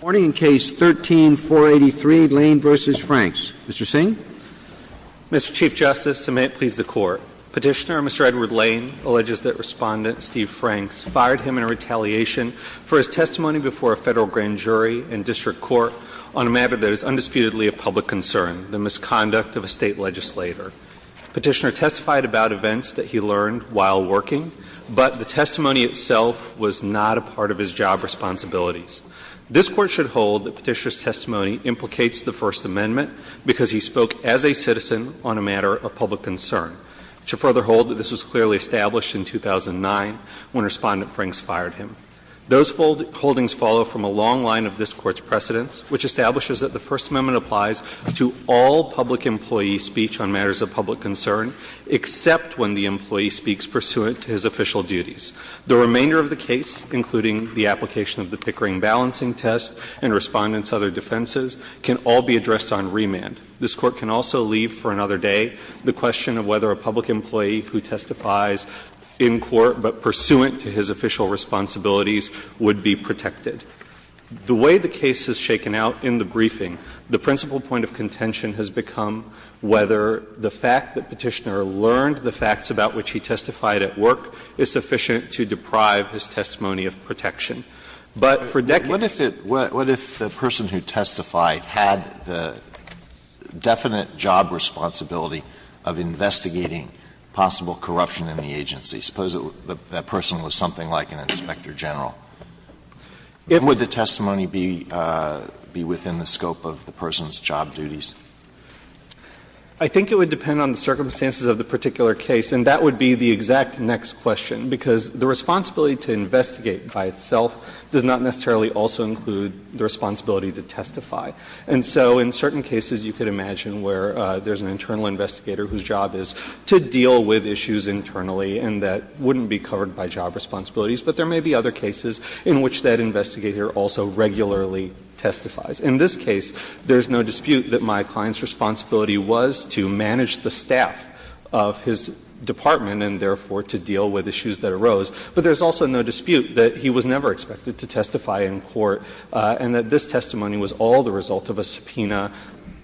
Warning in Case 13-483, Lane v. Franks. Mr. Singh? Mr. Chief Justice, and may it please the Court, Petitioner, Mr. Edward Lane alleges that Respondent Steve Franks fired him in retaliation for his testimony before a federal grand jury and district court on a matter that is undisputedly of public concern, the misconduct of a state legislator. Petitioner testified about events that he learned while working, but the testimony itself was not a part of his job responsibilities. This Court should hold that Petitioner's testimony implicates the First Amendment because he spoke as a citizen on a matter of public concern. It should further hold that this was clearly established in 2009 when Respondent Franks fired him. Those holdings follow from a long line of this Court's precedents, which establishes that the First Amendment applies to all public employee speech on matters of public concern except when the employee speaks pursuant to his official duties. The remainder of the case, including the application of the Pickering balancing test and Respondent's other defenses, can all be addressed on remand. This Court can also leave for another day the question of whether a public employee who testifies in court but pursuant to his official responsibilities would be protected. The way the case has shaken out in the briefing, the principal point of contention has become whether the fact that Petitioner learned the facts about which he testified at work is sufficient to deprive his testimony of protection. But for decades he has not been able to do that. Alito What if the person who testified had the definite job responsibility of investigating possible corruption in the agency? Suppose that person was something like an inspector general. Would the testimony be within the scope of the person's job duties? I think it would depend on the circumstances of the particular case. And that would be the exact next question, because the responsibility to investigate by itself does not necessarily also include the responsibility to testify. And so in certain cases you could imagine where there's an internal investigator whose job is to deal with issues internally and that wouldn't be covered by job responsibilities. But there may be other cases in which that investigator also regularly testifies. In this case, there is no dispute that my client's responsibility was to manage the staff of his department and therefore to deal with issues that arose. But there's also no dispute that he was never expected to testify in court and that this testimony was all the result of a subpoena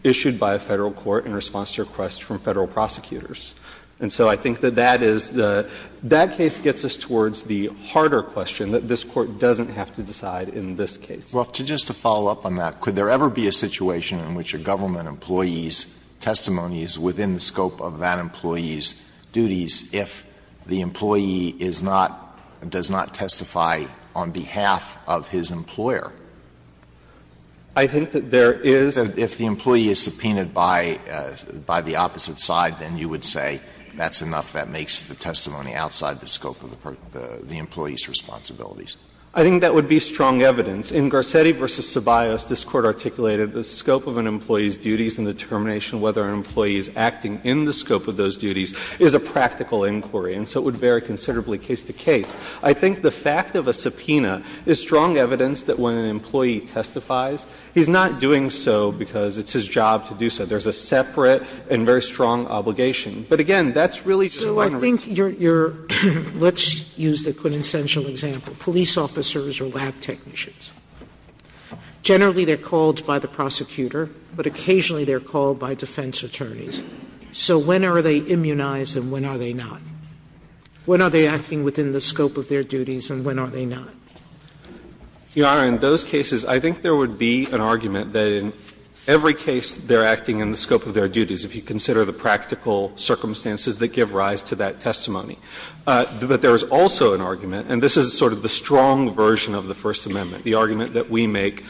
issued by a Federal court in response to requests from Federal prosecutors. And so I think that that is the — that case gets us towards the harder question that this Court doesn't have to decide in this case. Alito Well, just to follow up on that, could there ever be a situation in which a government employee's testimony is within the scope of that employee's duties if the employee is not — does not testify on behalf of his employer? I think that there is. Alito If the employee is subpoenaed by the opposite side, then you would say that's enough, that makes the testimony outside the scope of the employee's responsibilities. I think that would be strong evidence. In Garcetti v. Ceballos, this Court articulated the scope of an employee's duties and determination whether an employee is acting in the scope of those duties is a practical inquiry, and so it would vary considerably case to case. I think the fact of a subpoena is strong evidence that when an employee testifies, he's not doing so because it's his job to do so. There's a separate and very strong obligation. But, again, that's really just one reason. Sotomayor Your — let's use the quintessential example, police officers or lab technicians. Generally, they're called by the prosecutor, but occasionally they're called by defense attorneys. So when are they immunized and when are they not? When are they acting within the scope of their duties and when are they not? Garrett Your Honor, in those cases, I think there would be an argument that in every case they're acting in the scope of their duties, if you consider the practical circumstances that give rise to that testimony. But there is also an argument, and this is sort of the strong version of the First Amendment, the argument that we make.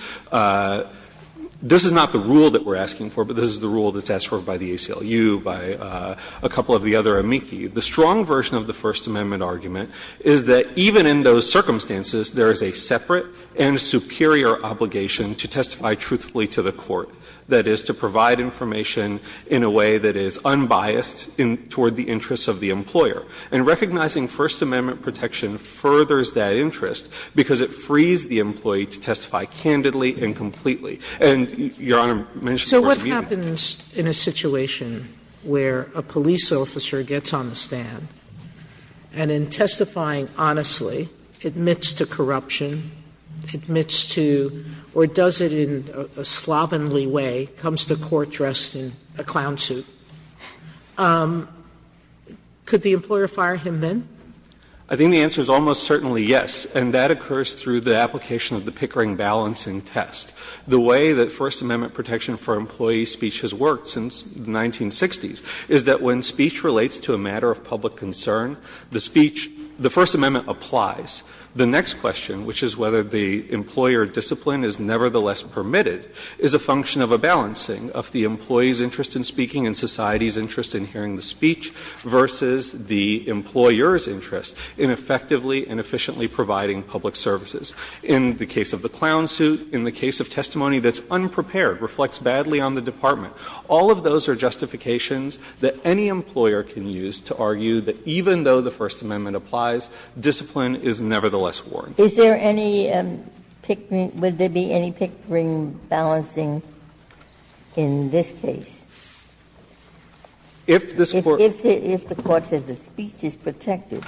This is not the rule that we're asking for, but this is the rule that's asked for by the ACLU, by a couple of the other amici. The strong version of the First Amendment argument is that even in those circumstances, there is a separate and superior obligation to testify truthfully to the court, that is, to provide information in a way that is unbiased toward the interests of the employer. And recognizing First Amendment protection furthers that interest because it frees the employee to testify candidly and completely. And Your Honor mentioned the word immunity. Sotomayor So what happens in a situation where a police officer gets on the stand and in testifying honestly, admits to corruption, admits to, or does it in a slovenly way, comes to court dressed in a clown suit, could the employer fire him then? I think the answer is almost certainly yes. And that occurs through the application of the Pickering balancing test. The way that First Amendment protection for employee speech has worked since the 1960s is that when speech relates to a matter of public concern, the speech, the First Amendment applies. The next question, which is whether the employer discipline is nevertheless permitted, is a function of a balancing of the employee's interest in speaking and society's interest in hearing the speech versus the employer's interest in effectively and efficiently providing public services. In the case of the clown suit, in the case of testimony that's unprepared, reflects badly on the department. All of those are justifications that any employer can use to argue that even though the First Amendment applies, discipline is nevertheless warranted. Ginsburg Is there any Pickering – would there be any Pickering balancing in this case? If the Court says the speech is protected,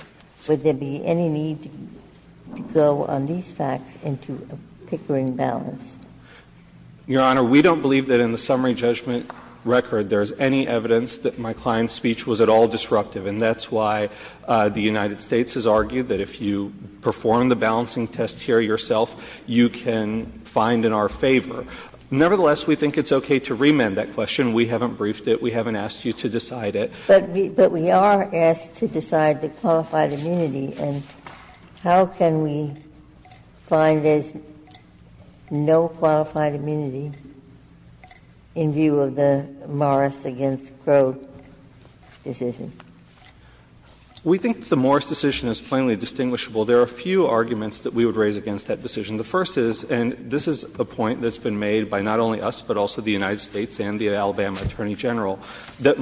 would there be any need to go on these facts into a Pickering balance? Your Honor, we don't believe that in the summary judgment record there's any evidence that my client's speech was at all disruptive. And that's why the United States has argued that if you perform the balancing test here yourself, you can find in our favor. Nevertheless, we think it's okay to remand that question. We haven't briefed it. We haven't asked you to decide it. Ginsburg But we are asked to decide the qualified immunity. And how can we find there's no qualified immunity in view of the Morris v. Crow decision? We think the Morris decision is plainly distinguishable. There are a few arguments that we would raise against that decision. The first is, and this is a point that's been made by not only us, but also the United States, is that it's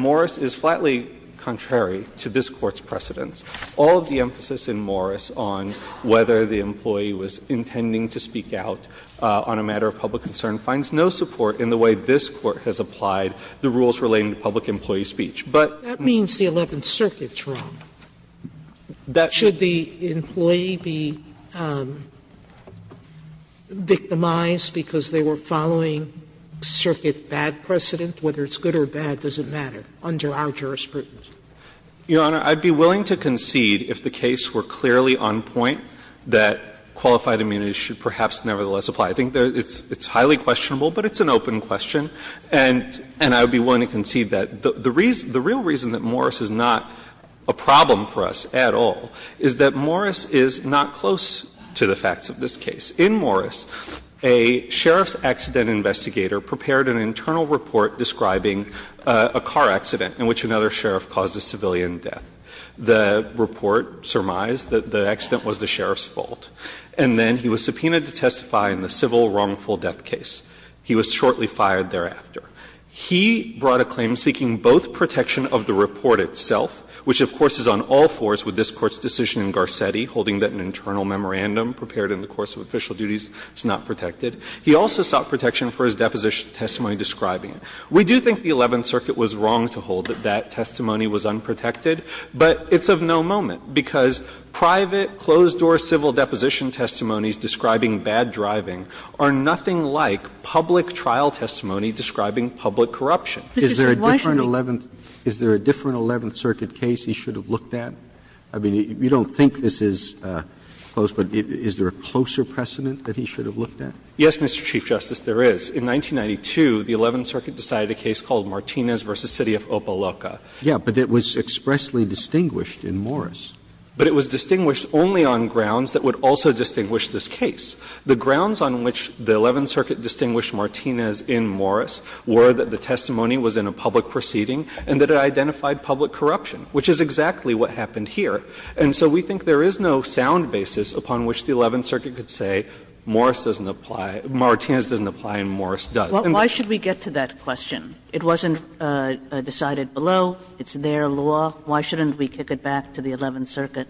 completely contrary to this Court's precedents. All of the emphasis in Morris on whether the employee was intending to speak out on a matter of public concern finds no support in the way this Court has applied the rules relating to public employee speech. Sotomayor That means the Eleventh Circuit's wrong. Should the employee be victimized because they were following Circuit bad precedent? Whether it's good or bad doesn't matter under our jurisprudence. Fisher Your Honor, I'd be willing to concede, if the case were clearly on point, that qualified immunity should perhaps nevertheless apply. I think it's highly questionable, but it's an open question. And I would be willing to concede that. The real reason that Morris is not a problem for us at all is that Morris is not close to the facts of this case. In Morris, a sheriff's accident investigator prepared an internal report describing a car accident in which another sheriff caused a civilian death. The report surmised that the accident was the sheriff's fault. And then he was subpoenaed to testify in the civil wrongful death case. He was shortly fired thereafter. He brought a claim seeking both protection of the report itself, which of course is on all fours with this Court's decision in Garcetti holding that an internal memorandum prepared in the course of official duties is not protected. He also sought protection for his deposition testimony describing it. We do think the Eleventh Circuit was wrong to hold that that testimony was unprotected, but it's of no moment, because private closed-door civil deposition testimonies describing bad driving are nothing like public trial testimony describing public corruption. Is there a different Eleventh Circuit case he should have looked at? I mean, you don't think this is close, but is there a closer precedent that he should have looked at? Yes, Mr. Chief Justice, there is. In 1992, the Eleventh Circuit decided a case called Martinez v. City of Opa-Loca. Yes, but it was expressly distinguished in Morris. But it was distinguished only on grounds that would also distinguish this case. The grounds on which the Eleventh Circuit distinguished Martinez in Morris were that the testimony was in a public proceeding and that it identified public corruption, which is exactly what happened here. And so we think there is no sound basis upon which the Eleventh Circuit could say Morris doesn't apply, Martinez doesn't apply and Morris does. Why should we get to that question? It wasn't decided below. It's their law. Why shouldn't we kick it back to the Eleventh Circuit?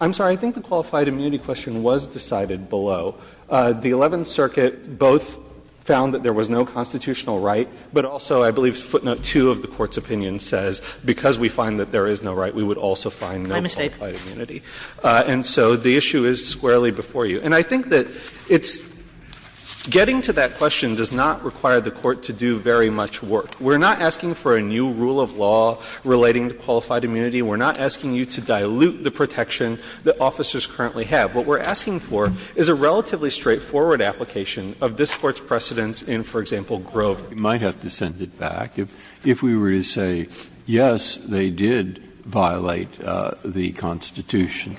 I'm sorry. I think the qualified immunity question was decided below. The Eleventh Circuit both found that there was no constitutional right, but also, I believe footnote 2 of the Court's opinion says because we find that there is no right, we would also find no qualified immunity. And so the issue is squarely before you. And I think that it's — getting to that question does not require the Court to do very much work. We're not asking for a new rule of law relating to qualified immunity. We're not asking you to dilute the protection that officers currently have. What we're asking for is a relatively straightforward application of this Court's precedence in, for example, Grove. Breyer, you might have to send it back. If we were to say, yes, they did violate the Constitution,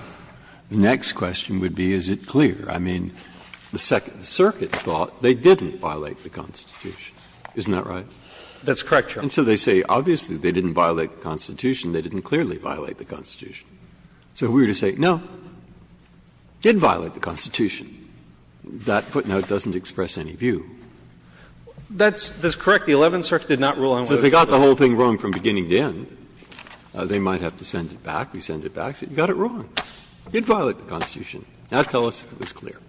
the next question would be, is it clear? I mean, the Second Circuit thought they didn't violate the Constitution. Isn't that right? That's correct, Your Honor. And so they say, obviously, they didn't violate the Constitution. They didn't clearly violate the Constitution. So if we were to say, no, did violate the Constitution, that footnote doesn't express any view. That's correct. The Eleventh Circuit did not rule on whether it was clear. So if they got the whole thing wrong from beginning to end, they might have to send it back. We send it back and say, you got it wrong. You didn't violate the Constitution. Now tell us if it was clear.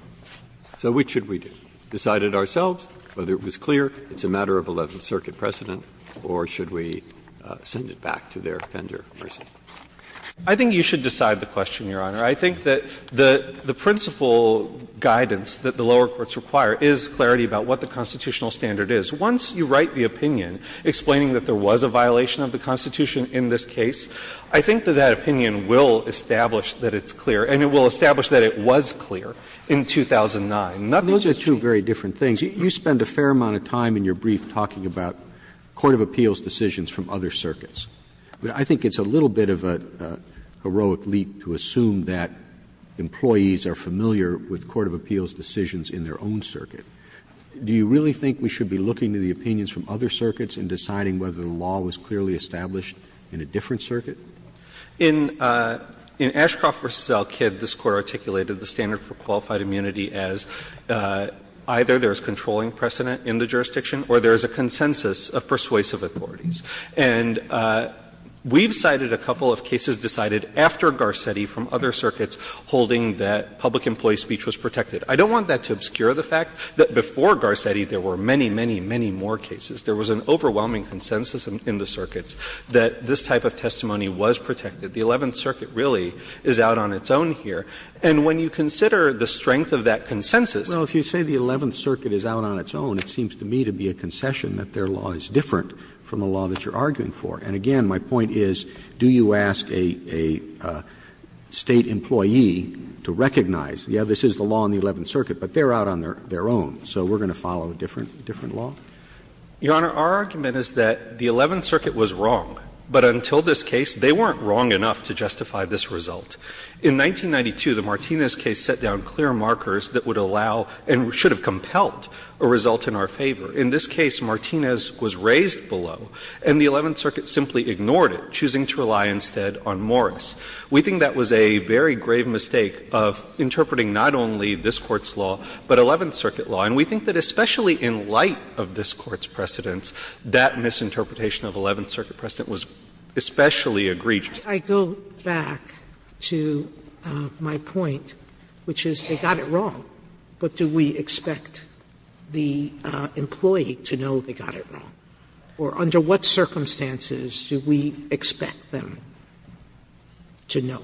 So which should we do? Decide it ourselves, whether it was clear, it's a matter of Eleventh Circuit precedent, or should we send it back to their tender versus? I think you should decide the question, Your Honor. I think that the principal guidance that the lower courts require is clarity about what the constitutional standard is. Once you write the opinion explaining that there was a violation of the Constitution in this case, I think that that opinion will establish that it's clear and it will establish that it was clear in 2009. Nothing's changed. Roberts, those are two very different things. You spend a fair amount of time in your brief talking about court of appeals decisions from other circuits. But I think it's a little bit of a heroic leap to assume that employees are familiar with court of appeals decisions in their own circuit. Do you really think we should be looking to the opinions from other circuits and deciding whether the law was clearly established in a different circuit? In Ashcroft v. Selkid, this Court articulated the standard for qualified immunity as either there is controlling precedent in the jurisdiction or there is a consensus of persuasive authorities. And we've cited a couple of cases decided after Garcetti from other circuits holding that public employee speech was protected. I don't want that to obscure the fact that before Garcetti, there were many, many, many more cases. There was an overwhelming consensus in the circuits that this type of testimony was protected. The Eleventh Circuit really is out on its own here. And when you consider the strength of that consensus. Roberts, if you say the Eleventh Circuit is out on its own, it seems to me to be a concession that their law is different from the law that you're arguing for. And again, my point is, do you ask a State employee to recognize, yes, this is the law in the Eleventh Circuit, but they're out on their own. So we're going to follow a different law? Your Honor, our argument is that the Eleventh Circuit was wrong. But until this case, they weren't wrong enough to justify this result. In 1992, the Martinez case set down clear markers that would allow and should have compelled a result in our favor. In this case, Martinez was raised below, and the Eleventh Circuit simply ignored it, choosing to rely instead on Morris. We think that was a very grave mistake of interpreting not only this Court's law, but Eleventh Circuit law. And we think that especially in light of this Court's precedents, that misinterpretation of Eleventh Circuit precedent was especially egregious. Sotomayor, did I go back to my point, which is they got it wrong, but do we expect the employee to know they got it wrong? Or under what circumstances do we expect them to know?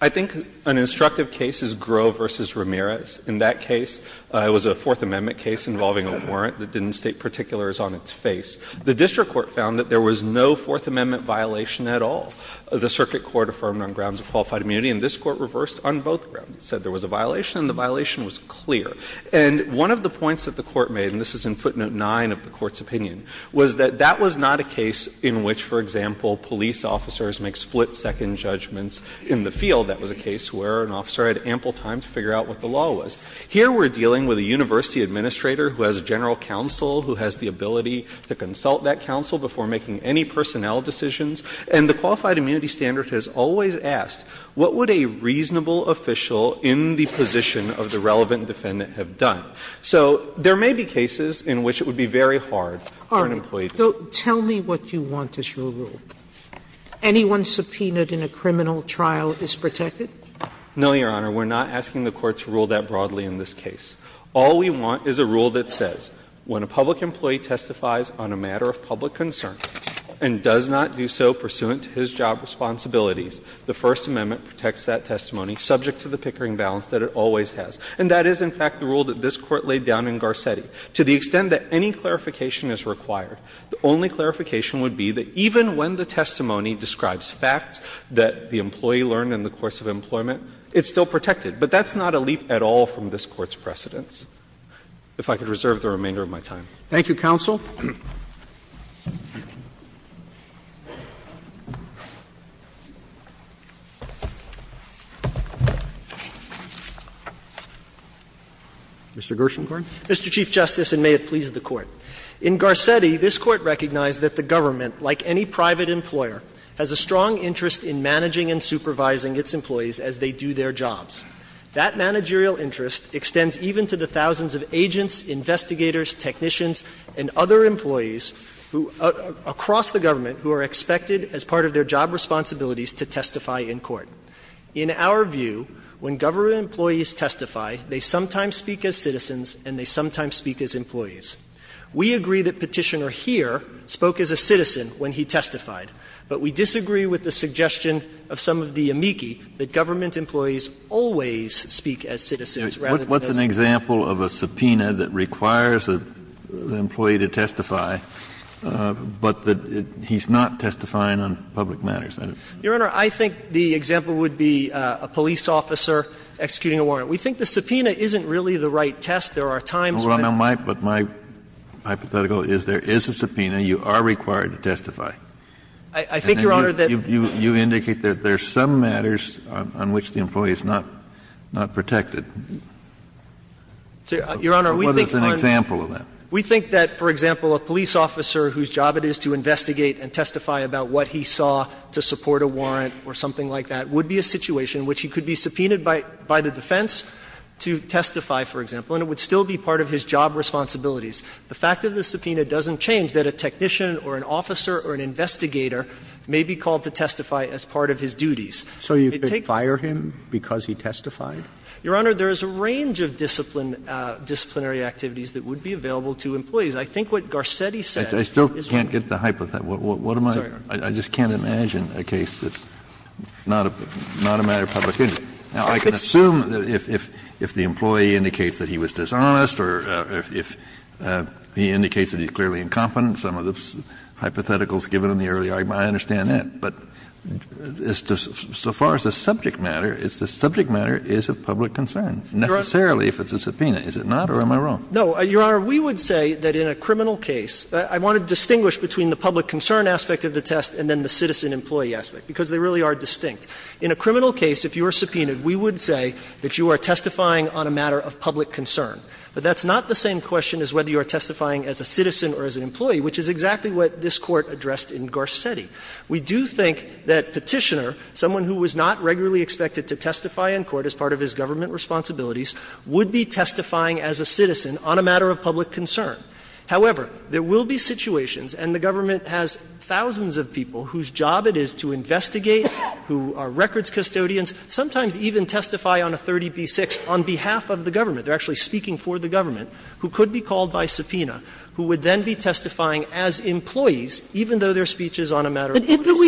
I think an instructive case is Groh v. Ramirez. In that case, it was a Fourth Amendment case involving a warrant that didn't state particulars on its face. The district court found that there was no Fourth Amendment violation at all. The circuit court affirmed on grounds of qualified immunity, and this Court reversed on both grounds. It said there was a violation, and the violation was clear. And one of the points that the Court made, and this is in footnote 9 of the Court's opinion, was that that was not a case in which, for example, police officers make split-second judgments in the field. That was a case where an officer had ample time to figure out what the law was. Here we're dealing with a university administrator who has a general counsel who has the ability to consult that counsel before making any personnel decisions. And the qualified immunity standard has always asked, what would a reasonable official in the position of the relevant defendant have done? So there may be cases in which it would be very hard for an employee to know. Sotomayor, tell me what you want as your rule. Anyone subpoenaed in a criminal trial is protected? No, Your Honor. We're not asking the Court to rule that broadly in this case. All we want is a rule that says when a public employee testifies on a matter of public concern and does not do so pursuant to his job responsibilities, the First Amendment protects that testimony subject to the Pickering balance that it always has. And that is, in fact, the rule that this Court laid down in Garcetti. To the extent that any clarification is required, the only clarification would be that even when the testimony describes facts that the employee learned in the course of employment, it's still protected. But that's not a leap at all from this Court's precedence. If I could reserve the remainder of my time. Roberts. Thank you, counsel. Mr. Gershengorn. Mr. Chief Justice, and may it please the Court. In Garcetti, this Court recognized that the government, like any private employer, has a strong interest in managing and supervising its employees as they do their jobs. That managerial interest extends even to the thousands of agents, investigators, technicians, and other employees who, across the government, who are expected as part of their job responsibilities to testify in court. In our view, when government employees testify, they sometimes speak as citizens and they sometimes speak as employees. We agree that Petitioner here spoke as a citizen when he testified, but we disagree with the suggestion of some of the amici that government employees always speak as citizens rather than as employees. Kennedy. What's an example of a subpoena that requires an employee to testify, but that he's not testifying on public matters? Your Honor, I think the example would be a police officer executing a warrant. We think the subpoena isn't really the right test. There are times when a police officer is not testifying on a public matter. But my hypothetical is there is a subpoena, you are required to testify. I think, Your Honor, that And you indicate that there are some matters on which the employee is not protected. Your Honor, we think on What is an example of that? We think that, for example, a police officer whose job it is to investigate and testify about what he saw to support a warrant or something like that would be a situation which he could be subpoenaed by the defense to testify, for example, and it would still be part of his job responsibilities. The fact of the subpoena doesn't change that a technician or an officer or an investigator may be called to testify as part of his duties. So you could fire him because he testified? Your Honor, there is a range of disciplinary activities that would be available to employees. I think what Garcetti said is right. I still can't get the hypothetical. I just can't imagine a case that's not a matter of public interest. Now, I can assume that if the employee indicates that he was dishonest or if he indicates that he's clearly incompetent, some of the hypotheticals given in the earlier argument, I understand that. But so far as the subject matter, the subject matter is of public concern, necessarily if it's a subpoena. Is it not, or am I wrong? No, Your Honor. We would say that in a criminal case, I want to distinguish between the public concern aspect of the test and then the citizen-employee aspect, because they really are distinct. In a criminal case, if you are subpoenaed, we would say that you are testifying on a matter of public concern. But that's not the same question as whether you are testifying as a citizen or as an employee, which is exactly what this Court addressed in Garcetti. We do think that Petitioner, someone who was not regularly expected to testify in court as part of his government responsibilities, would be testifying as a citizen on a matter of public concern. However, there will be situations, and the government has thousands of people whose job it is to investigate, who are records custodians, sometimes even testify on a 30B6 on behalf of the government. They are actually speaking for the government, who could be called by subpoena, who would then be testifying as employees, even though their speech is on a matter of public concern. Kagan,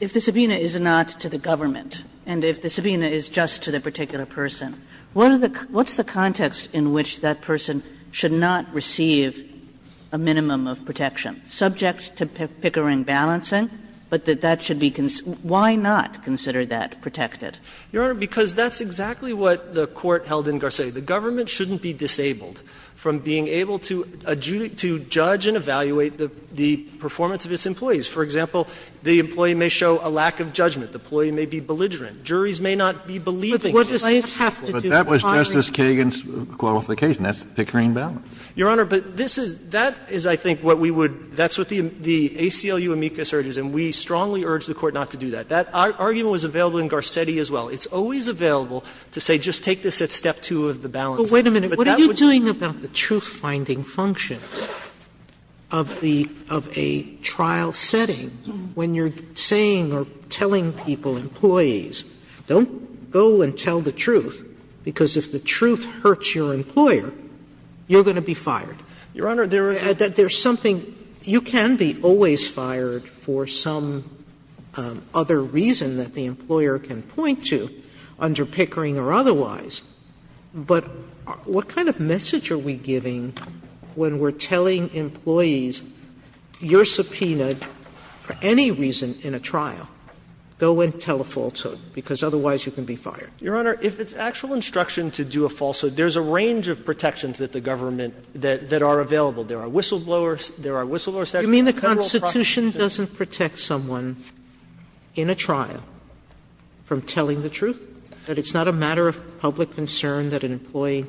if the subpoena is not to the government, and if the subpoena is just to the particular person, what is the context in which that person should not receive a minimum of protection, subject to Pickering balancing, but that that should be why not consider that protected? Your Honor, because that's exactly what the Court held in Garcetti. The government shouldn't be disabled from being able to judge and evaluate the performance of its employees. For example, the employee may show a lack of judgment. The employee may be belligerent. Juries may not be believing in this case. Kennedy, but that was Justice Kagan's qualification. That's Pickering balancing. Your Honor, but this is — that is, I think, what we would — that's what the ACLU amicus urges, and we strongly urge the Court not to do that. That argument was available in Garcetti as well. It's always available to say just take this at step two of the balancing. Sotomayor, what are you doing about the truth-finding function of the — of a trial setting when you're saying or telling people, employees, don't go and tell the truth, because if the truth hurts your employer, you're going to be fired? Your Honor, there is — There's something — you can be always fired for some other reason that the employer can point to under Pickering or otherwise, but what kind of message are we giving when we're telling employees, you're subpoenaed for any reason in a trial. Go and tell a falsehood, because otherwise you can be fired. Your Honor, if it's actual instruction to do a falsehood, there's a range of protections that the government — that are available. There are whistleblowers. There are whistleblower statutes. You mean the Constitution doesn't protect someone in a trial from telling the truth? That it's not a matter of public concern that an employee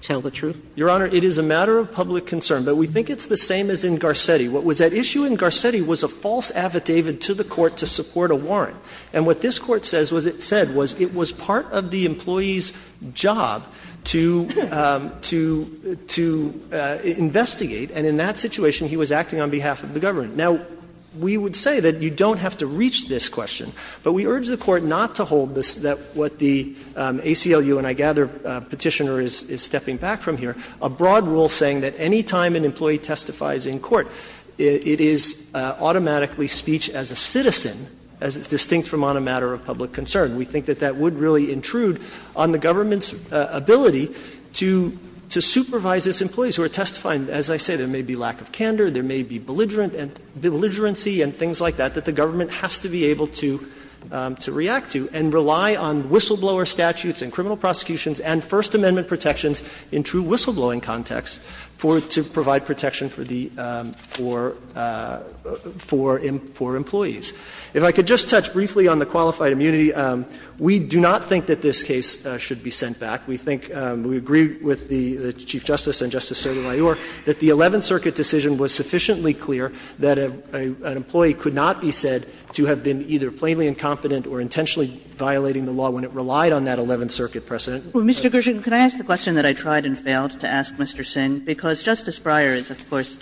tell the truth? Your Honor, it is a matter of public concern, but we think it's the same as in Garcetti. What was at issue in Garcetti was a false affidavit to the Court to support a warrant. And what this Court says was it said was it was part of the employee's job to — to investigate, and in that situation he was acting on behalf of the government. Now, we would say that you don't have to reach this question, but we urge the Court not to hold this — that what the ACLU, and I gather Petitioner is stepping back from here, a broad rule saying that any time an employee testifies in court, it is automatically speech as a citizen, as is distinct from on a matter of public concern. We think that that would really intrude on the government's ability to — to supervise its employees who are testifying. As I say, there may be lack of candor. There may be belligerent — belligerency and things like that, that the government has to be able to — to react to and rely on whistleblower statutes and criminal prosecutions and First Amendment protections in true whistleblowing context for — to — for employees. If I could just touch briefly on the qualified immunity. We do not think that this case should be sent back. We think — we agree with the Chief Justice and Justice Sotomayor that the Eleventh Circuit decision was sufficiently clear that an employee could not be said to have been either plainly incompetent or intentionally violating the law when it relied on that Eleventh Circuit precedent. Kagan. Kagan. Kagan. Kagan. Kagan. Kagan. Kagan. Kagan. Kagan. Kagan. Kagan. Kagan. Kagan.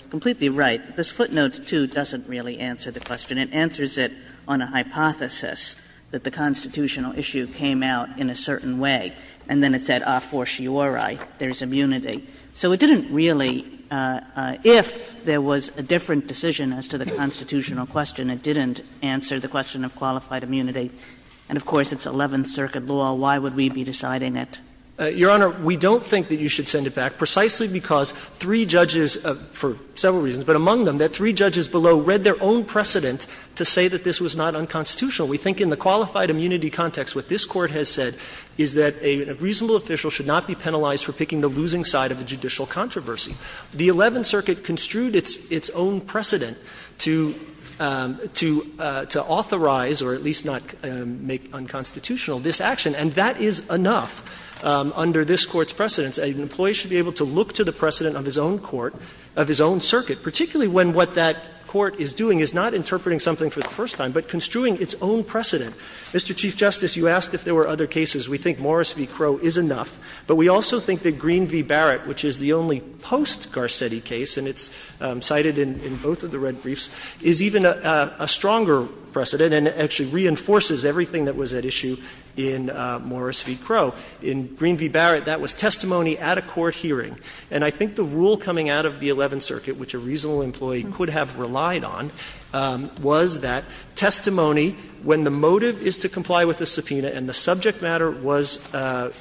The Constitution doesn't really answer the question. It answers it on a hypothesis that the constitutional issue came out in a certain way. And then it said, ah, forciorroi, there's immunity. So it didn't really — if there was a different decision as to the constitutional question, it didn't answer the question of qualified immunity, and of course, it's Eleventh Circuit law. Why would we be deciding that? Your Honor, we don't think that you should send it back, precisely because three judges, for several reasons, but among them, that three judges below read their own precedent to say that this was not unconstitutional. We think in the qualified immunity context, what this Court has said is that a reasonable official should not be penalized for picking the losing side of a judicial controversy. The Eleventh Circuit construed its own precedent to authorize, or at least not make unconstitutional, this action. And that is enough under this Court's precedents. An employee should be able to look to the precedent of his own court, of his own circuit, particularly when what that court is doing is not interpreting something for the first time, but construing its own precedent. Mr. Chief Justice, you asked if there were other cases. We think Morris v. Crowe is enough, but we also think that Green v. Barrett, which is the only post-Garcetti case, and it's cited in both of the red briefs, is even a stronger precedent and actually reinforces everything that was at issue in Morris v. Crowe. In Green v. Barrett, that was testimony at a court hearing. And I think the rule coming out of the Eleventh Circuit, which a reasonable employee could have relied on, was that testimony, when the motive is to comply with a subpoena and the subject matter was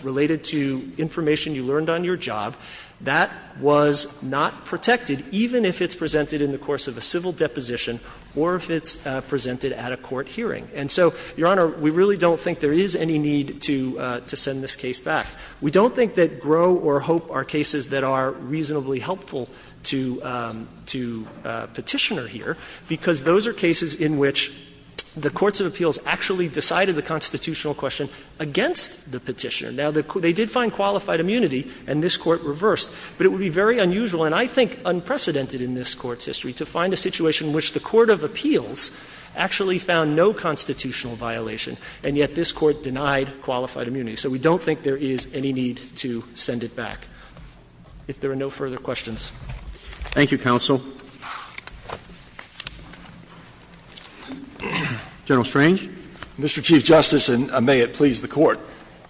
related to information you learned on your job, that was not protected, even if it's presented in the course of a civil deposition or if it's presented at a court hearing. And so, Your Honor, we really don't think there is any need to send this case back. We don't think that Crowe or Hope are cases that are reasonably helpful to Petitioner here, because those are cases in which the courts of appeals actually decided the constitutional question against the Petitioner. Now, they did find qualified immunity, and this Court reversed, but it would be very unusual, and I think unprecedented in this Court's history, to find a situation in which the court of appeals actually found no constitutional violation, and yet this Court denied qualified immunity. So we don't think there is any need to send it back. If there are no further questions. Roberts. Thank you, counsel. General Strange. Mr. Chief Justice, and may it please the Court.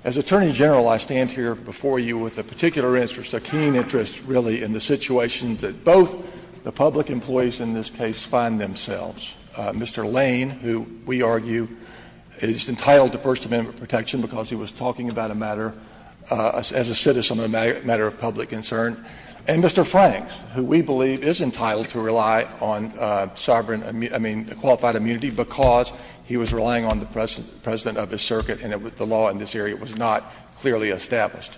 As Attorney General, I stand here before you with a particular interest, a keen interest really, in the situation that both the public employees in this case find themselves. Mr. Lane, who we argue is entitled to First Amendment protection because he was talking about a matter, as a citizen, a matter of public concern, and Mr. Franks, who we believe is entitled to rely on sovereign, I mean, qualified immunity because he was relying on the President of his circuit and the law in this area was not clearly established.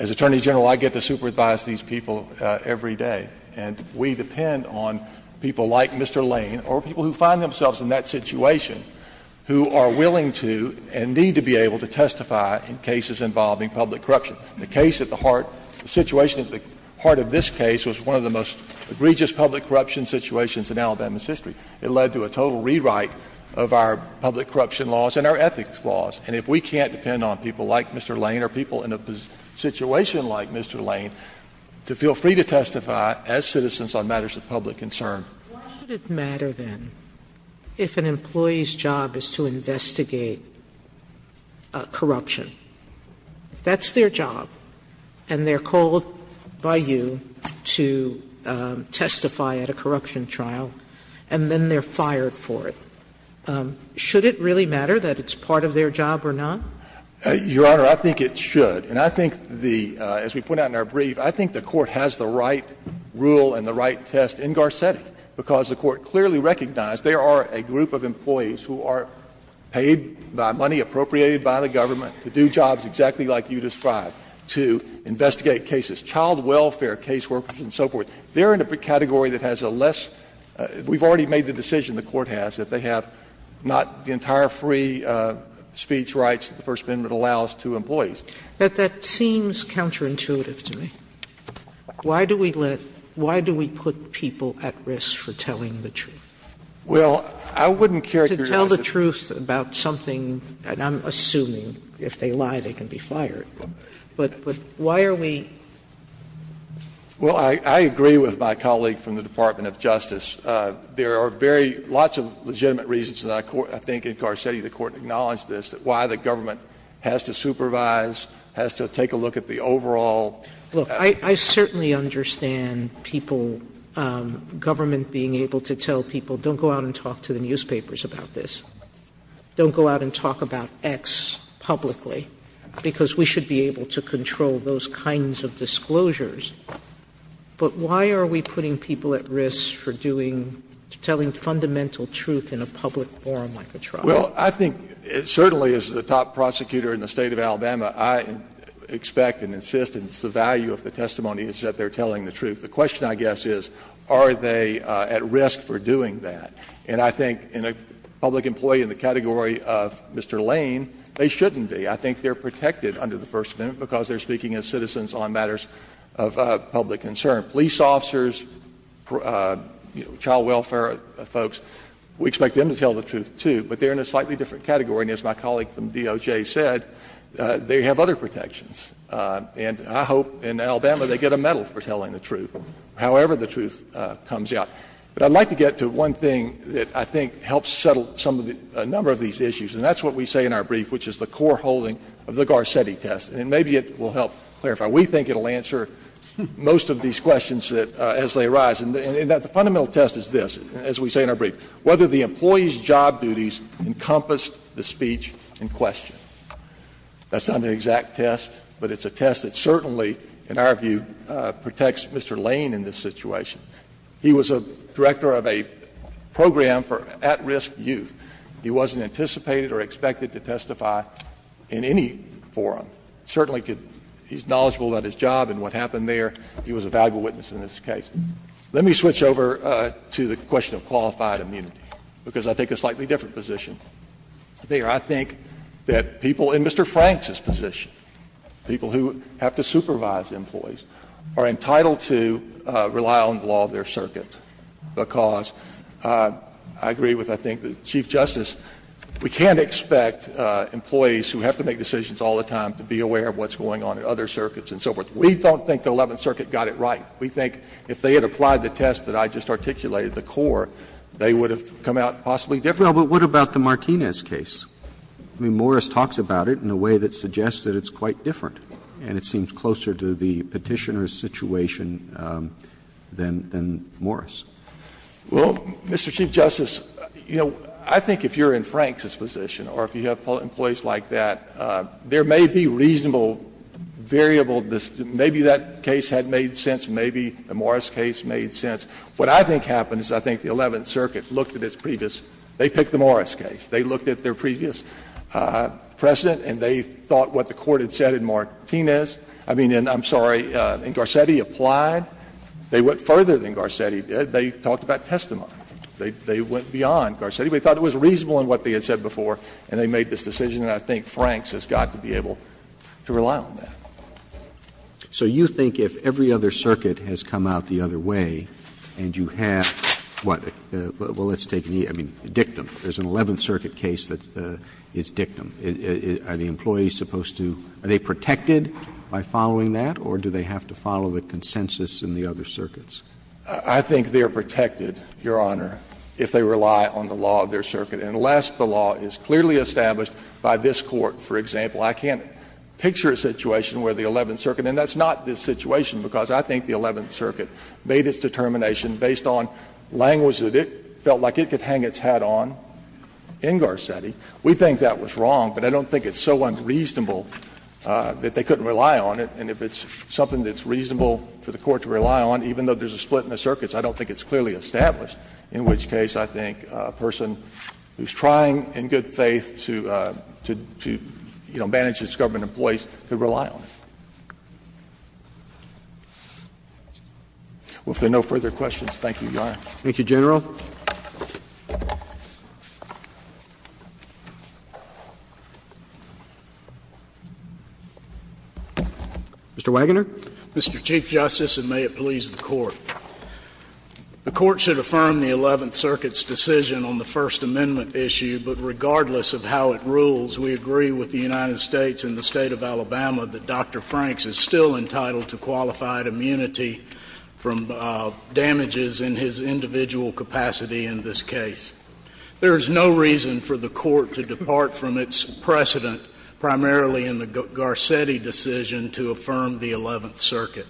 As Attorney General, I get to supervise these people every day, and we depend on people like Mr. Lane or people who find themselves in that situation who are willing to and need to be able to testify in cases involving public corruption. The case at the heart, the situation at the heart of this case was one of the most egregious public corruption situations in Alabama's history. It led to a total rewrite of our public corruption laws and our ethics laws, and if we can't depend on people like Mr. Lane or people in a situation like Mr. Lane to feel free to testify as citizens on matters of public concern. Sotomayor, why should it matter, then, if an employee's job is to investigate corruption? If that's their job, and they're called by you to testify at a corruption trial, and then they're fired for it, should it really matter that it's part of their job or not? Your Honor, I think it should. And I think the — as we point out in our brief, I think the Court has the right rule and the right test in Garcetti, because the Court clearly recognized there are a group of employees who are paid by money appropriated by the government to do jobs exactly like you described, to investigate cases, child welfare, caseworkers, and so forth. They're in a category that has a less — we've already made the decision, the Court has, that they have not the entire free speech rights that the First Amendment allows to employees. But that seems counterintuitive to me. Why do we let — why do we put people at risk for telling the truth? Well, I wouldn't characterize it as — To tell the truth about something, and I'm assuming if they lie, they can be fired. But why are we — Well, I agree with my colleague from the Department of Justice. There are very — lots of legitimate reasons, and I think in Garcetti the Court acknowledged this, that why the government has to supervise, has to take a look at the overall — Look, I certainly understand people — government being able to tell people, don't go out and talk to the newspapers about this. Don't go out and talk about X publicly, because we should be able to control those kinds of disclosures. But why are we putting people at risk for doing — telling fundamental truth in a public forum like a trial? Well, I think certainly as the top prosecutor in the State of Alabama, I expect and insist, and it's the value of the testimony, is that they're telling the truth. The question, I guess, is are they at risk for doing that? And I think in a public employee in the category of Mr. Lane, they shouldn't be. I think they're protected under the First Amendment because they're speaking as citizens on matters of public concern. Police officers, child welfare folks, we expect them to tell the truth, too. But they're in a slightly different category. And as my colleague from DOJ said, they have other protections. And I hope in Alabama they get a medal for telling the truth, however the truth comes out. But I'd like to get to one thing that I think helps settle some of the — a number of these issues, and that's what we say in our brief, which is the core holding of the Garcetti test. And maybe it will help clarify. We think it will answer most of these questions that — as they arise. And the fundamental test is this, as we say in our brief, whether the employee's job duties encompassed the speech in question. That's not an exact test, but it's a test that certainly, in our view, protects Mr. Lane in this situation. He was a director of a program for at-risk youth. He wasn't anticipated or expected to testify in any forum. Certainly could — he's knowledgeable about his job and what happened there. He was a valuable witness in this case. Let me switch over to the question of qualified immunity, because I think a slightly different position. There, I think that people in Mr. Frank's position, people who have to supervise employees, are entitled to rely on the law of their circuit, because I agree with, I think, Chief Justice, we can't expect employees who have to make decisions all the time to be aware of what's going on in other circuits and so forth. We don't think the Eleventh Circuit got it right. We think if they had applied the test that I just articulated, the core, they would have come out possibly different. Roberts. But what about the Martinez case? I mean, Morris talks about it in a way that suggests that it's quite different, and it seems closer to the Petitioner's situation than Morris. Well, Mr. Chief Justice, you know, I think if you're in Frank's position or if you have employees like that, there may be reasonable variable — maybe that case had made sense, maybe the Morris case made sense. What I think happened is I think the Eleventh Circuit looked at its previous — they picked the Morris case. They looked at their previous precedent, and they thought what the Court had said in Martinez — I mean, in, I'm sorry, in Garcetti, applied. They went further than Garcetti did. They talked about testimony. They went beyond Garcetti. They thought it was reasonable in what they had said before, and they made this decision. And I think Frank's has got to be able to rely on that. Roberts. So you think if every other circuit has come out the other way and you have what? Well, let's take the — I mean, Dictum. There's an Eleventh Circuit case that is Dictum. Are the employees supposed to — are they protected by following that, or do they have to follow the consensus in the other circuits? I think they are protected, Your Honor, if they rely on the law of their circuit. And unless the law is clearly established by this Court, for example, I can't picture a situation where the Eleventh Circuit — and that's not this situation, because I think the Eleventh Circuit made its determination based on language that it felt like it could hang its hat on in Garcetti. We think that was wrong, but I don't think it's so unreasonable that they couldn't rely on it. And if it's something that's reasonable for the Court to rely on, even though there's a split in the circuits, I don't think it's clearly established, in which case I think a person who's trying in good faith to — to, you know, manage his government employees could rely on it. Well, if there are no further questions, thank you, Your Honor. Thank you, General. Mr. Wagoner? Mr. Chief Justice, and may it please the Court, the Court should affirm the Eleventh Circuit's decision on the First Amendment issue, but regardless of how it rules, we agree with the United States and the State of Alabama that Dr. Franks is still entitled to qualified immunity from damages in his individual capacity in this case. There is no reason for the Court to depart from its precedent, primarily in the Garcetti decision to affirm the Eleventh Circuit.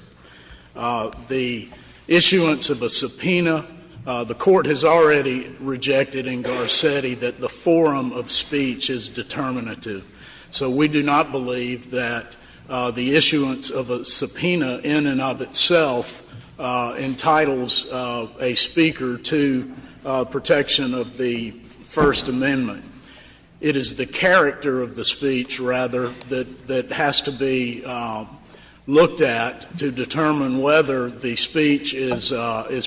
The issuance of a subpoena, the Court has already rejected in Garcetti that the forum of speech is determinative. So we do not believe that the issuance of a subpoena in and of itself entitles a speaker to protection of the First Amendment. It is the character of the speech, rather, that has to be looked at to determine whether the speech is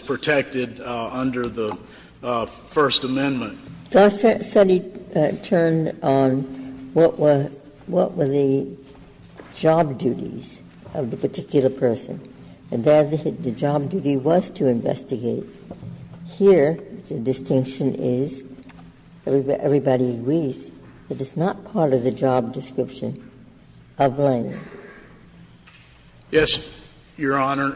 protected under the First Amendment. Justice Sotomayor turned on what were the job duties of the particular person. And then the job duty was to investigate. Here, the distinction is, everybody agrees, that it's not part of the job description of Lane. Yes, Your Honor.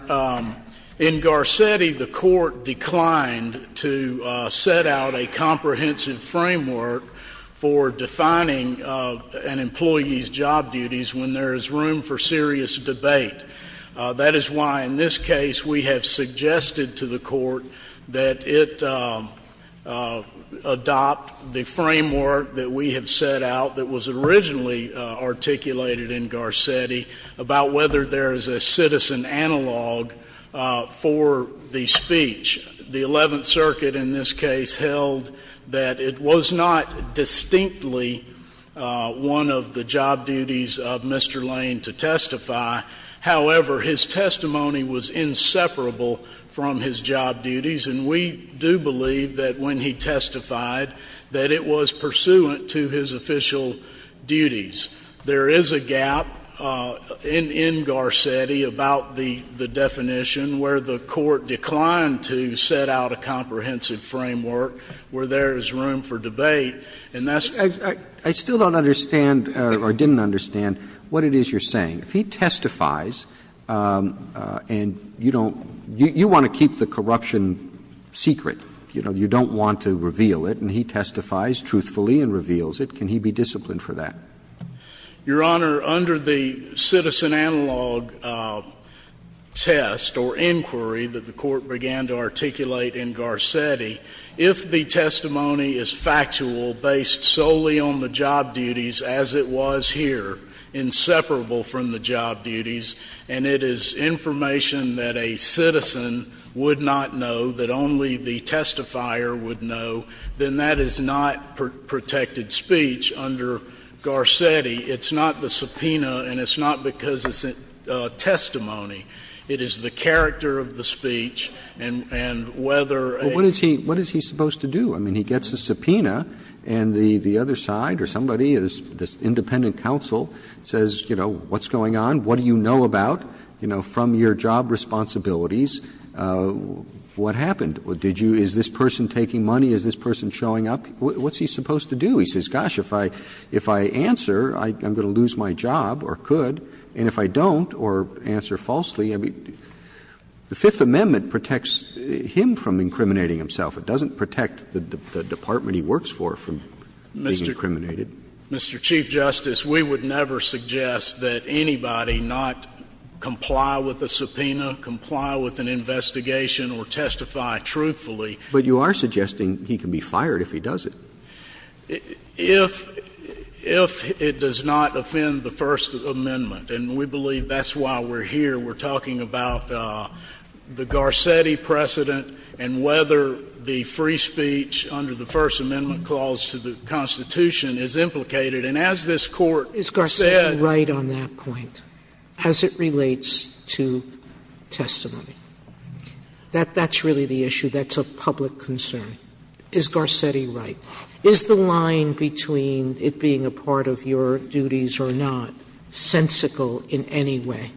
In Garcetti, the Court declined to set out a comprehensive framework for defining an employee's job duties when there is room for serious debate. That is why, in this case, we have suggested to the Court that it adopt the framework that we have set out, that was originally articulated in Garcetti, about whether there is a citizen analog for the speech. The Eleventh Circuit, in this case, held that it was not distinctly one of the job duties, however, his testimony was inseparable from his job duties, and we do believe that when he testified, that it was pursuant to his official duties. There is a gap in Garcetti about the definition where the Court declined to set out a comprehensive framework where there is room for debate, and that's why. I still don't understand, or didn't understand, what it is you're saying. If he testifies and you don't — you want to keep the corruption secret, you know, you don't want to reveal it, and he testifies truthfully and reveals it, can he be disciplined for that? Your Honor, under the citizen analog test or inquiry that the Court began to articulate in Garcetti, if the testimony is factual, based solely on the job duties as it was here, inseparable from the job duties, and it is information that a citizen would not know, that only the testifier would know, then that is not protected speech under Garcetti. It's not the subpoena and it's not because it's a testimony. It is the character of the speech and whether a — But what is he supposed to do? I mean, he gets a subpoena and the other side or somebody, this independent counsel, says, you know, what's going on? What do you know about, you know, from your job responsibilities? What happened? Did you — is this person taking money? Is this person showing up? What's he supposed to do? He says, gosh, if I answer, I'm going to lose my job or could, and if I don't or answer falsely, I mean, the Fifth Amendment protects him from incriminating himself. It doesn't protect the department he works for from being incriminated. Mr. Chief Justice, we would never suggest that anybody not comply with a subpoena, comply with an investigation, or testify truthfully. But you are suggesting he can be fired if he does it. If it does not offend the First Amendment, and we believe that's why we're here, we're talking about the Garcetti precedent and whether the free speech under the First Amendment clause to the Constitution is implicated. And as this Court said — Sotomayor, is Garcetti right on that point, as it relates to testimony? That's really the issue. That's a public concern. Is Garcetti right? Is the line between it being a part of your duties or not sensical in any way?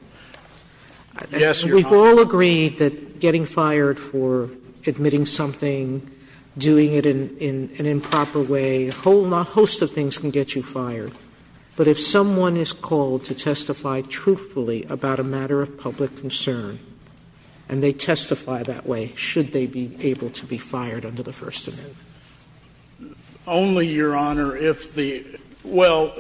Yes, Your Honor. We've all agreed that getting fired for admitting something, doing it in an improper way, a whole host of things can get you fired. But if someone is called to testify truthfully about a matter of public concern and they testify that way, should they be able to be fired under the First Amendment? Only, Your Honor, if the — well,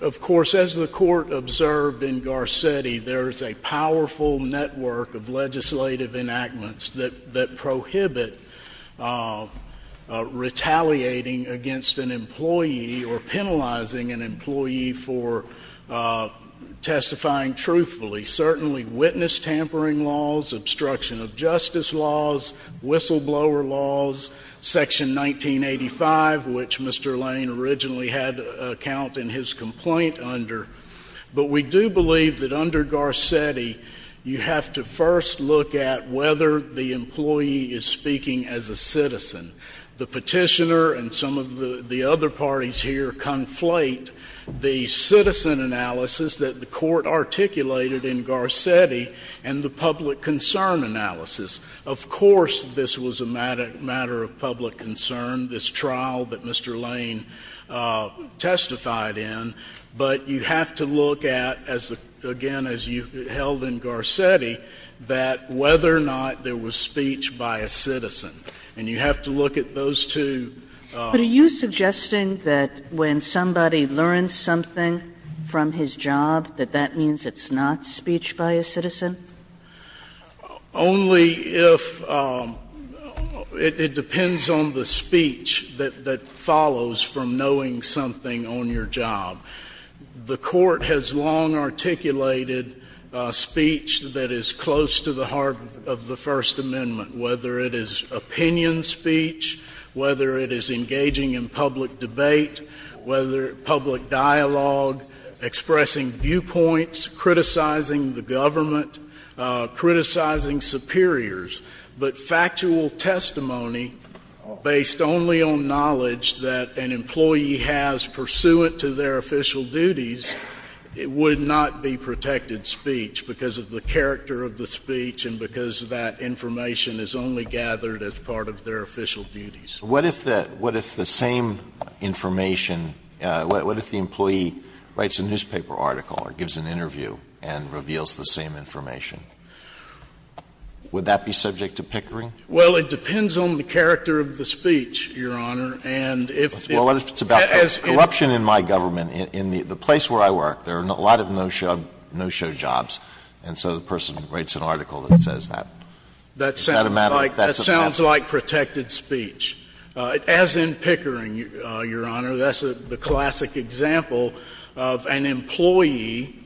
of course, as the Court observed in Garcetti, there is a powerful network of legislative enactments that prohibit retaliating against an employee or penalizing an employee for testifying truthfully. Certainly witness tampering laws, obstruction of justice laws, whistleblower laws, Section 1985, which Mr. Lane originally had a count in his complaint under. But we do believe that under Garcetti, you have to first look at whether the employee is speaking as a citizen. The petitioner and some of the other parties here conflate the citizen analysis that the Court articulated in Garcetti and the public concern analysis. Of course, this was a matter of public concern, this trial that Mr. Lane testified in. But you have to look at, again, as you held in Garcetti, that whether or not there was speech by a citizen, and you have to look at those two. But are you suggesting that when somebody learns something from his job, that that means it's not speech by a citizen? Only if — it depends on the speech that follows from knowing something on your job. The Court has long articulated speech that is close to the heart of the First Amendment, whether it is opinion speech, whether it is engaging in public debate, whether it is public dialogue, expressing viewpoints, criticizing the government, criticizing superiors. But factual testimony based only on knowledge that an employee has pursuant to their official duties would not be protected speech because of the character of the speech and because that information is only gathered as part of their official duties. What if the same information — what if the employee writes a newspaper article or gives an interview and reveals the same information? Would that be subject to pickering? Well, it depends on the character of the speech, Your Honor. And if it's about corruption in my government, in the place where I work, there are a lot of no-show jobs. And so the person writes an article that says that. Is that a matter? That's a matter. That sounds like protected speech. As in pickering, Your Honor, that's the classic example of an employee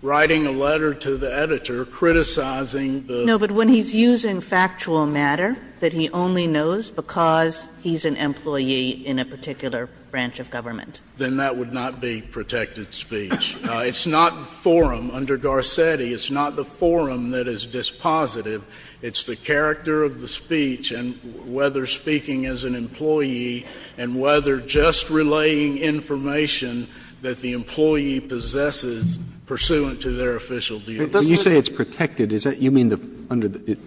writing a letter to the editor criticizing the — No, but when he's using factual matter that he only knows because he's an employee in a particular branch of government. Then that would not be protected speech. It's not forum under Garcetti. It's not the forum that is dispositive. It's the character of the speech and whether speaking as an employee and whether just relaying information that the employee possesses pursuant to their official duties. When you say it's protected, is that — you mean under the — it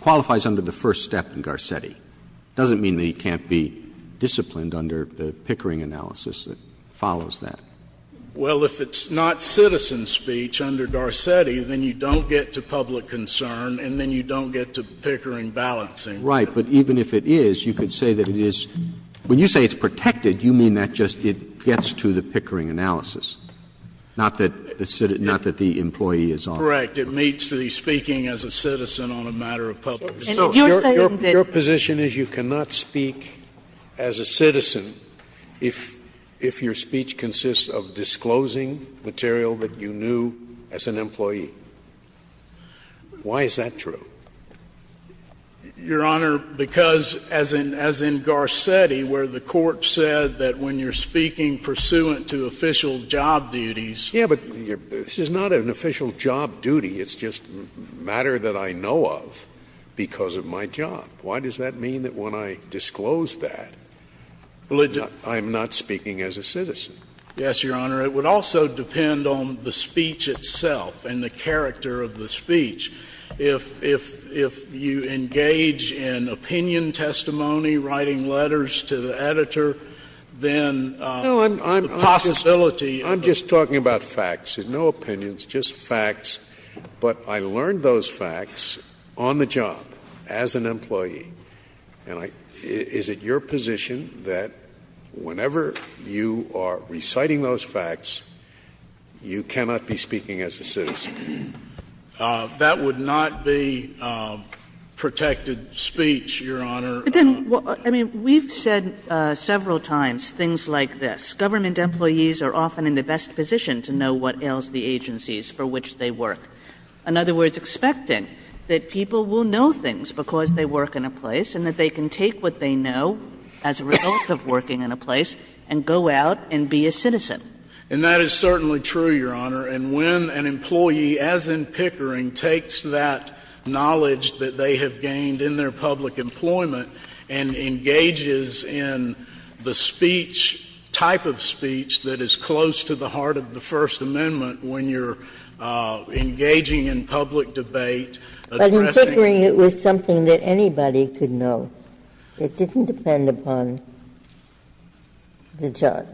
qualifies under the first step in Garcetti. It doesn't mean that he can't be disciplined under the pickering analysis that follows that. Well, if it's not citizen speech under Garcetti, then you don't get to public concern and then you don't get to pickering balancing. Right. But even if it is, you could say that it is — when you say it's protected, you mean that just it gets to the pickering analysis, not that the employee is on it. Correct. It meets the speaking as a citizen on a matter of public concern. And you're saying that — Your position is you cannot speak as a citizen if your speech consists of disclosing material that you knew as an employee. Why is that true? Your Honor, because as in Garcetti, where the Court said that when you're speaking pursuant to official job duties — Yeah, but this is not an official job duty. It's just matter that I know of because of my job. Why does that mean that when I disclose that, I'm not speaking as a citizen? Yes, Your Honor. It would also depend on the speech itself and the character of the speech. If you engage in opinion testimony, writing letters to the editor, then the possibility — But I learned those facts on the job as an employee, and I — is it your position that whenever you are reciting those facts, you cannot be speaking as a citizen? That would not be protected speech, Your Honor. But then — I mean, we've said several times things like this. Government employees are often in the best position to know what ails the agencies for which they work. In other words, expecting that people will know things because they work in a place and that they can take what they know as a result of working in a place and go out and be a citizen. And that is certainly true, Your Honor. And when an employee, as in Pickering, takes that knowledge that they have gained in their public employment and engages in the speech, type of speech, that is close to the heart of the First Amendment when you're engaging in public debate, addressing — But in Pickering, it was something that anybody could know. It didn't depend upon the job,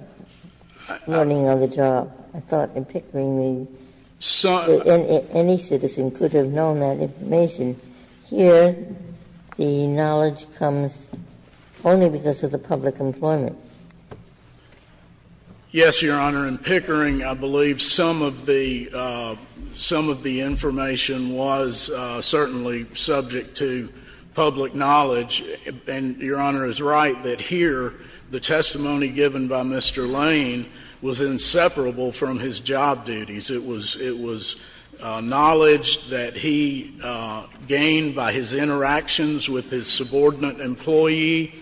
learning on the job. I thought in Pickering, any citizen could have known that information. Here, the knowledge comes only because of the public employment. Yes, Your Honor. In Pickering, I believe some of the information was certainly subject to public knowledge. And Your Honor is right that here the testimony given by Mr. Lane was inseparable from his job duties. It was — it was knowledge that he gained by his interactions with his subordinate employee,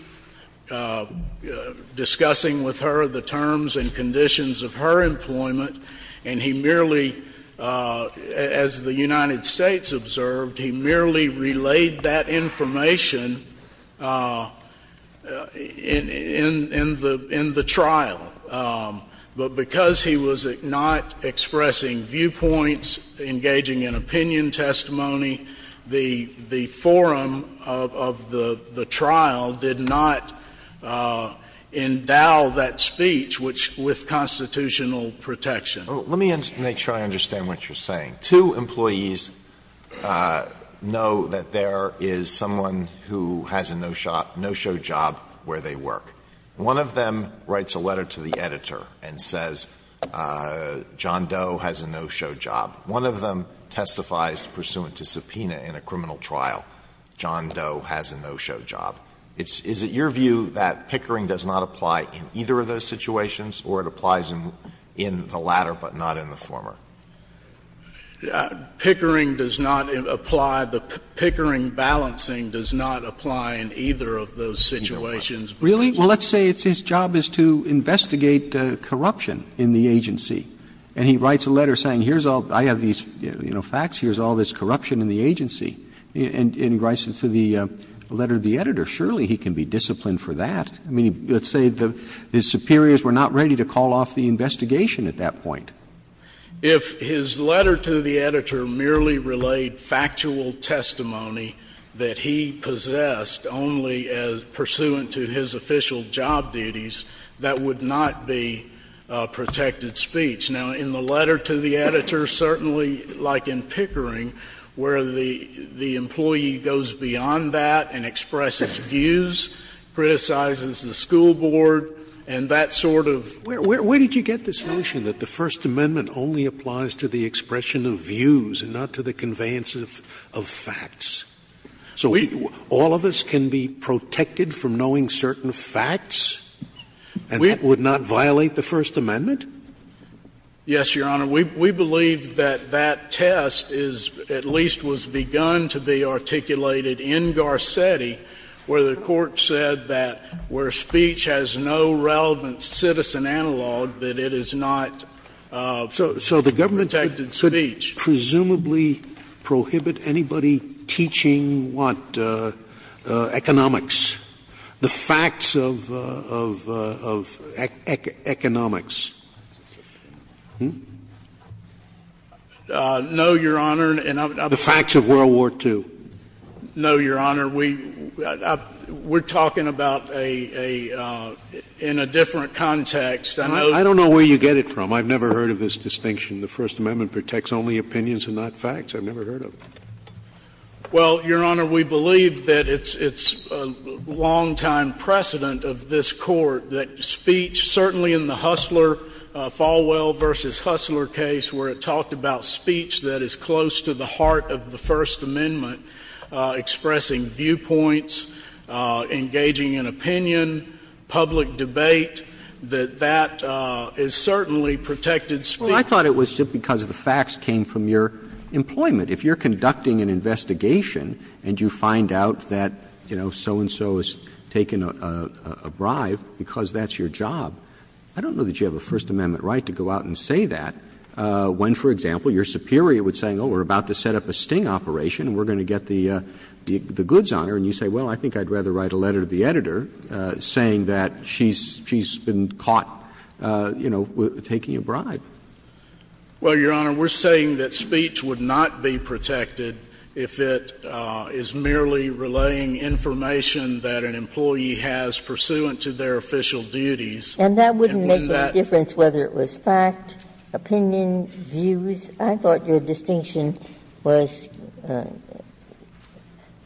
discussing with her the terms and conditions of her employment, and he merely — as the United States observed, he merely relayed that information in the trial. But because he was not expressing viewpoints, engaging in opinion testimony, the forum of the trial did not endow that speech with constitutional protection. Let me make sure I understand what you're saying. Two employees know that there is someone who has a no-show job where they work. One of them writes a letter to the editor and says, John Doe has a no-show job. One of them testifies pursuant to subpoena in a criminal trial. John Doe has a no-show job. It's — is it your view that Pickering does not apply in either of those situations or it applies in the latter but not in the former? Pickering does not apply. The Pickering balancing does not apply in either of those situations. Really? Well, let's say it's his job is to investigate corruption in the agency. And he writes a letter saying, here's all — I have these, you know, facts. Here's all this corruption in the agency. And he writes it to the letter to the editor. Surely he can be disciplined for that. I mean, let's say his superiors were not ready to call off the investigation at that point. If his letter to the editor merely relayed factual testimony that he possessed only pursuant to his official job duties, that would not be protected speech. Now, in the letter to the editor, certainly like in Pickering, where the employee goes beyond that and expresses views, criticizes the school board, and that sort of — Where did you get this notion that the First Amendment only applies to the expression of views and not to the conveyance of facts? So all of us can be protected from knowing certain facts? And that would not violate the First Amendment? Yes, Your Honor. We believe that that test is — at least was begun to be articulated in Garcetti, where the Court said that where speech has no relevant citizen analog, that it is not protected speech. Does this presumably prohibit anybody teaching, what, economics? The facts of economics? No, Your Honor. The facts of World War II. No, Your Honor. We're talking about a — in a different context. I don't know where you get it from. I've never heard of this distinction. The First Amendment protects only opinions and not facts. I've never heard of it. Well, Your Honor, we believe that it's a longtime precedent of this Court that speech — certainly in the Hustler, Falwell v. Hustler case, where it talked about speech that is close to the heart of the First Amendment, expressing viewpoints, engaging in opinion, public debate, that that is certainly protected speech. Well, I thought it was just because the facts came from your employment. If you're conducting an investigation and you find out that, you know, so-and-so has taken a bribe because that's your job, I don't know that you have a First Amendment right to go out and say that when, for example, your superior would say, oh, we're about to set up a sting operation and we're going to get the goods on her, and you say, well, I think I'd rather write a letter to the editor saying that she's been caught, you know, taking a bribe. Well, Your Honor, we're saying that speech would not be protected if it is merely relaying information that an employee has pursuant to their official duties. And that wouldn't make any difference whether it was fact, opinion, views. I thought your distinction was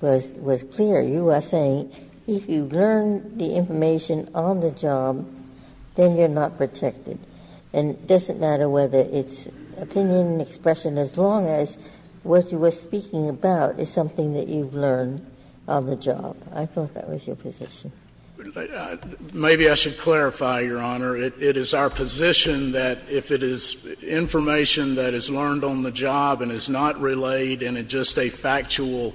clear. You are saying if you learn the information on the job, then you're not protected. And it doesn't matter whether it's opinion, expression, as long as what you are speaking about is something that you've learned on the job. I thought that was your position. Maybe I should clarify, Your Honor. It is our position that if it is information that is learned on the job and is not relayed, and it's just a factual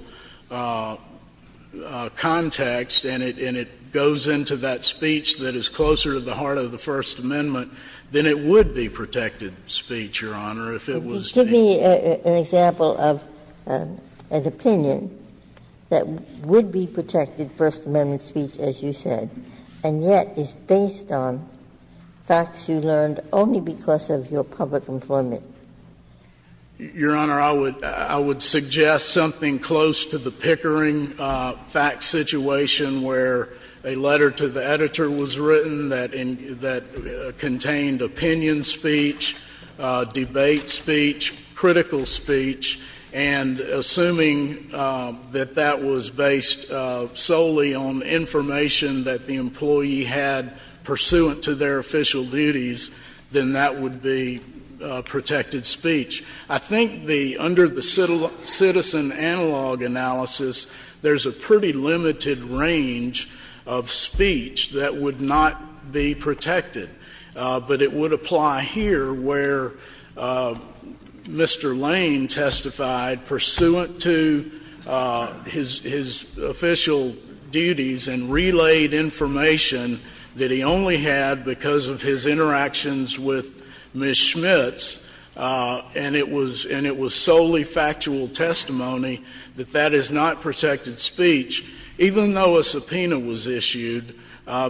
context, and it goes into that speech that is closer to the heart of the First Amendment, then it would be protected speech, Your Honor, if it was being used. Ginsburg's opinion that would be protected First Amendment speech, as you said, and yet is based on facts you learned only because of your public informant. Your Honor, I would suggest something close to the Pickering fact situation where a letter to the editor was written that contained opinion speech, debate speech, critical speech, and assuming that that was based solely on information that the employee had pursuant to their official duties, then that would be protected speech. I think under the citizen analog analysis, there's a pretty limited range of speech that would not be protected. But it would apply here where Mr. Lane testified pursuant to his official duties and relayed information that he only had because of his interactions with Ms. Schmitz, and it was solely factual testimony, that that is not protected speech, even though a subpoena was issued,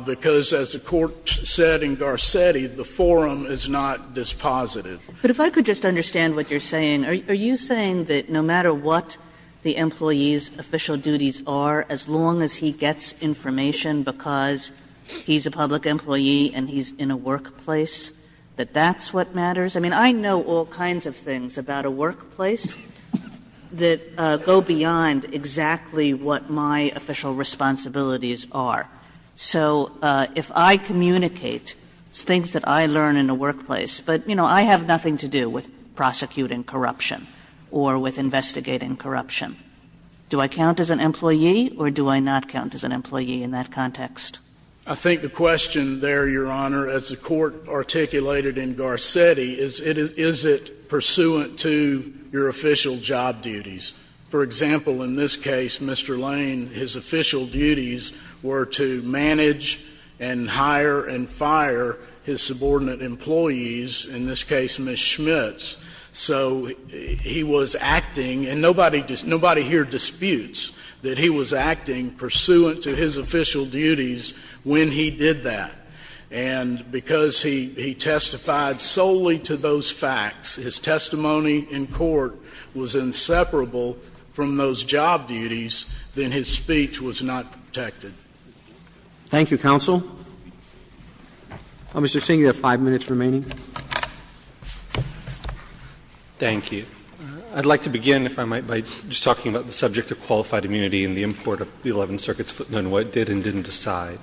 because as the Court said in Garcetti, the forum is not dispositive. But if I could just understand what you're saying, are you saying that no matter what the employee's official duties are, as long as he gets information because he's a public employee and he's in a workplace, that that's what matters? I mean, I know all kinds of things about a workplace that go beyond exactly what my official responsibilities are. So if I communicate things that I learn in a workplace, but you know, I have nothing to do with prosecuting corruption or with investigating corruption, do I count as an employee or do I not count as an employee in that context? I think the question there, Your Honor, as the court articulated in Garcetti, is it pursuant to your official job duties? For example, in this case, Mr. Lane, his official duties were to manage and hire and fire his subordinate employees, in this case, Ms. Schmitz. So he was acting, and nobody here disputes that he was acting pursuant to his official duties when he did that. And because he testified solely to those facts, his testimony in court was inseparable from those job duties, then his speech was not protected. Thank you, counsel. Mr. Singh, you have five minutes remaining. Thank you. I'd like to begin, if I might, by just talking about the subject of qualified immunity and the import of the Eleventh Circuit's footnote and what it did and didn't decide.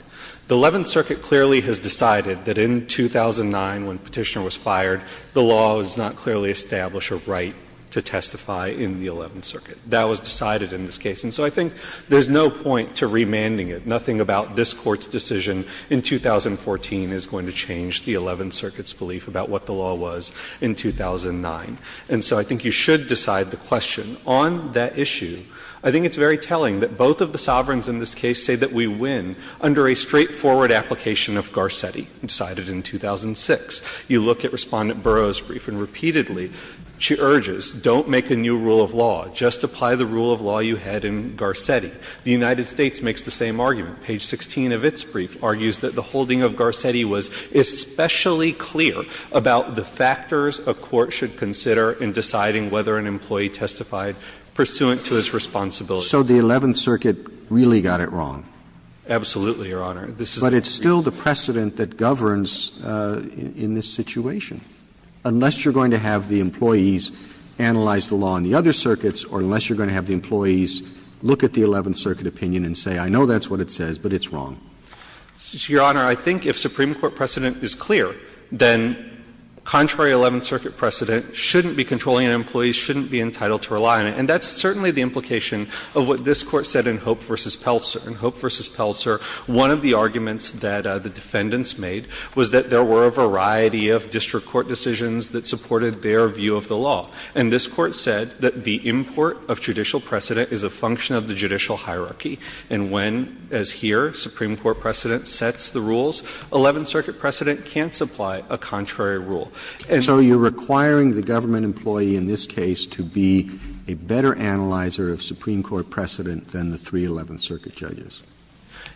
The Eleventh Circuit clearly has decided that in 2009, when Petitioner was fired, the law does not clearly establish a right to testify in the Eleventh Circuit. That was decided in this case. And so I think there's no point to remanding it. Nothing about this Court's decision in 2014 is going to change the Eleventh Circuit's belief about what the law was in 2009. And so I think you should decide the question. On that issue, I think it's very telling that both of the sovereigns in this case say that we win under a straightforward application of Garcetti, decided in 2006. You look at Respondent Burroughs' brief, and repeatedly she urges, don't make a new rule of law, just apply the rule of law you had in Garcetti. The United States makes the same argument. Page 16 of its brief argues that the holding of Garcetti was especially clear about the factors a court should consider in deciding whether an employee testified pursuant to its responsibilities. Roberts. So the Eleventh Circuit really got it wrong. Absolutely, Your Honor. But it's still the precedent that governs in this situation. Unless you're going to have the employees analyze the law in the other circuits or unless you're going to have the employees look at the Eleventh Circuit opinion and say, I know that's what it says, but it's wrong. Your Honor, I think if Supreme Court precedent is clear, then contrary Eleventh Circuit precedent shouldn't be controlling an employee, shouldn't be entitled to rely on it. And that's certainly the implication of what this Court said in Hope v. Pelser. In Hope v. Pelser, one of the arguments that the defendants made was that there were a variety of district court decisions that supported their view of the law. And this Court said that the import of judicial precedent is a function of the judicial hierarchy, and when, as here, Supreme Court precedent sets the rules, Eleventh Circuit precedent can't supply a contrary rule. And so you're requiring the government employee in this case to be a better analyzer of Supreme Court precedent than the three Eleventh Circuit judges.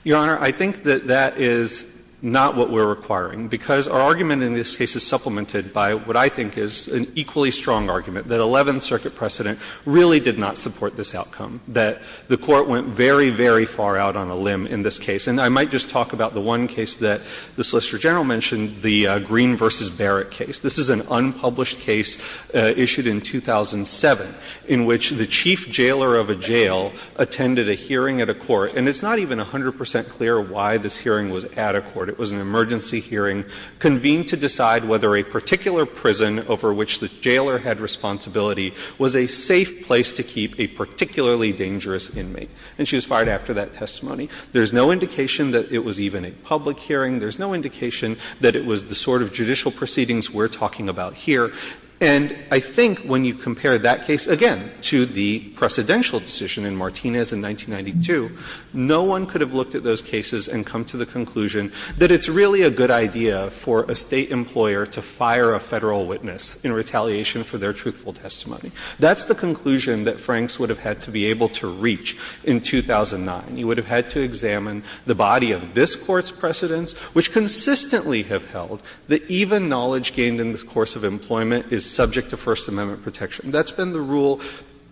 Your Honor, I think that that is not what we're requiring, because our argument in this case is supplemented by what I think is an equally strong argument, that Eleventh Circuit precedent really did not support this outcome, that the Court went very, very far out on a limb in this case. And I might just talk about the one case that the Solicitor General mentioned, the Green v. Barrett case. This is an unpublished case issued in 2007 in which the chief jailer of a jail attended a hearing at a court, and it's not even 100 percent clear why this hearing was at a court. It was an emergency hearing convened to decide whether a particular prison over which the jailer had responsibility was a safe place to keep a particularly dangerous inmate. And she was fired after that testimony. There's no indication that it was even a public hearing. There's no indication that it was the sort of judicial proceedings we're talking about here. And I think when you compare that case, again, to the precedential decision in Martinez in 1992, no one could have looked at those cases and come to the conclusion that it's really a good idea for a State employer to fire a Federal witness in retaliation for their truthful testimony. That's the conclusion that Franks would have had to be able to reach in 2009. He would have had to examine the body of this Court's precedents, which consistently have held that even knowledge gained in the course of employment is subject to First Amendment protection. That's been the rule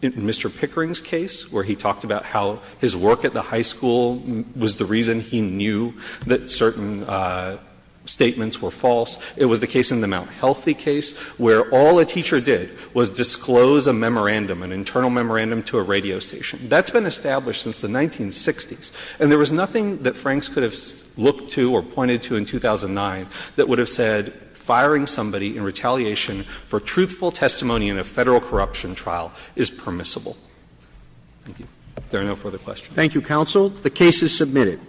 in Mr. Pickering's case, where he talked about how his work at the high school was the reason he knew that certain statements were false. It was the case in the Mount Healthy case, where all a teacher did was disclose a memorandum, an internal memorandum, to a radio station. That's been established since the 1960s. And there was nothing that Franks could have looked to or pointed to in 2009 that would have said firing somebody in retaliation for truthful testimony in a Federal corruption trial is permissible. Thank you. If there are no further questions. Roberts. Thank you, counsel. The case is submitted.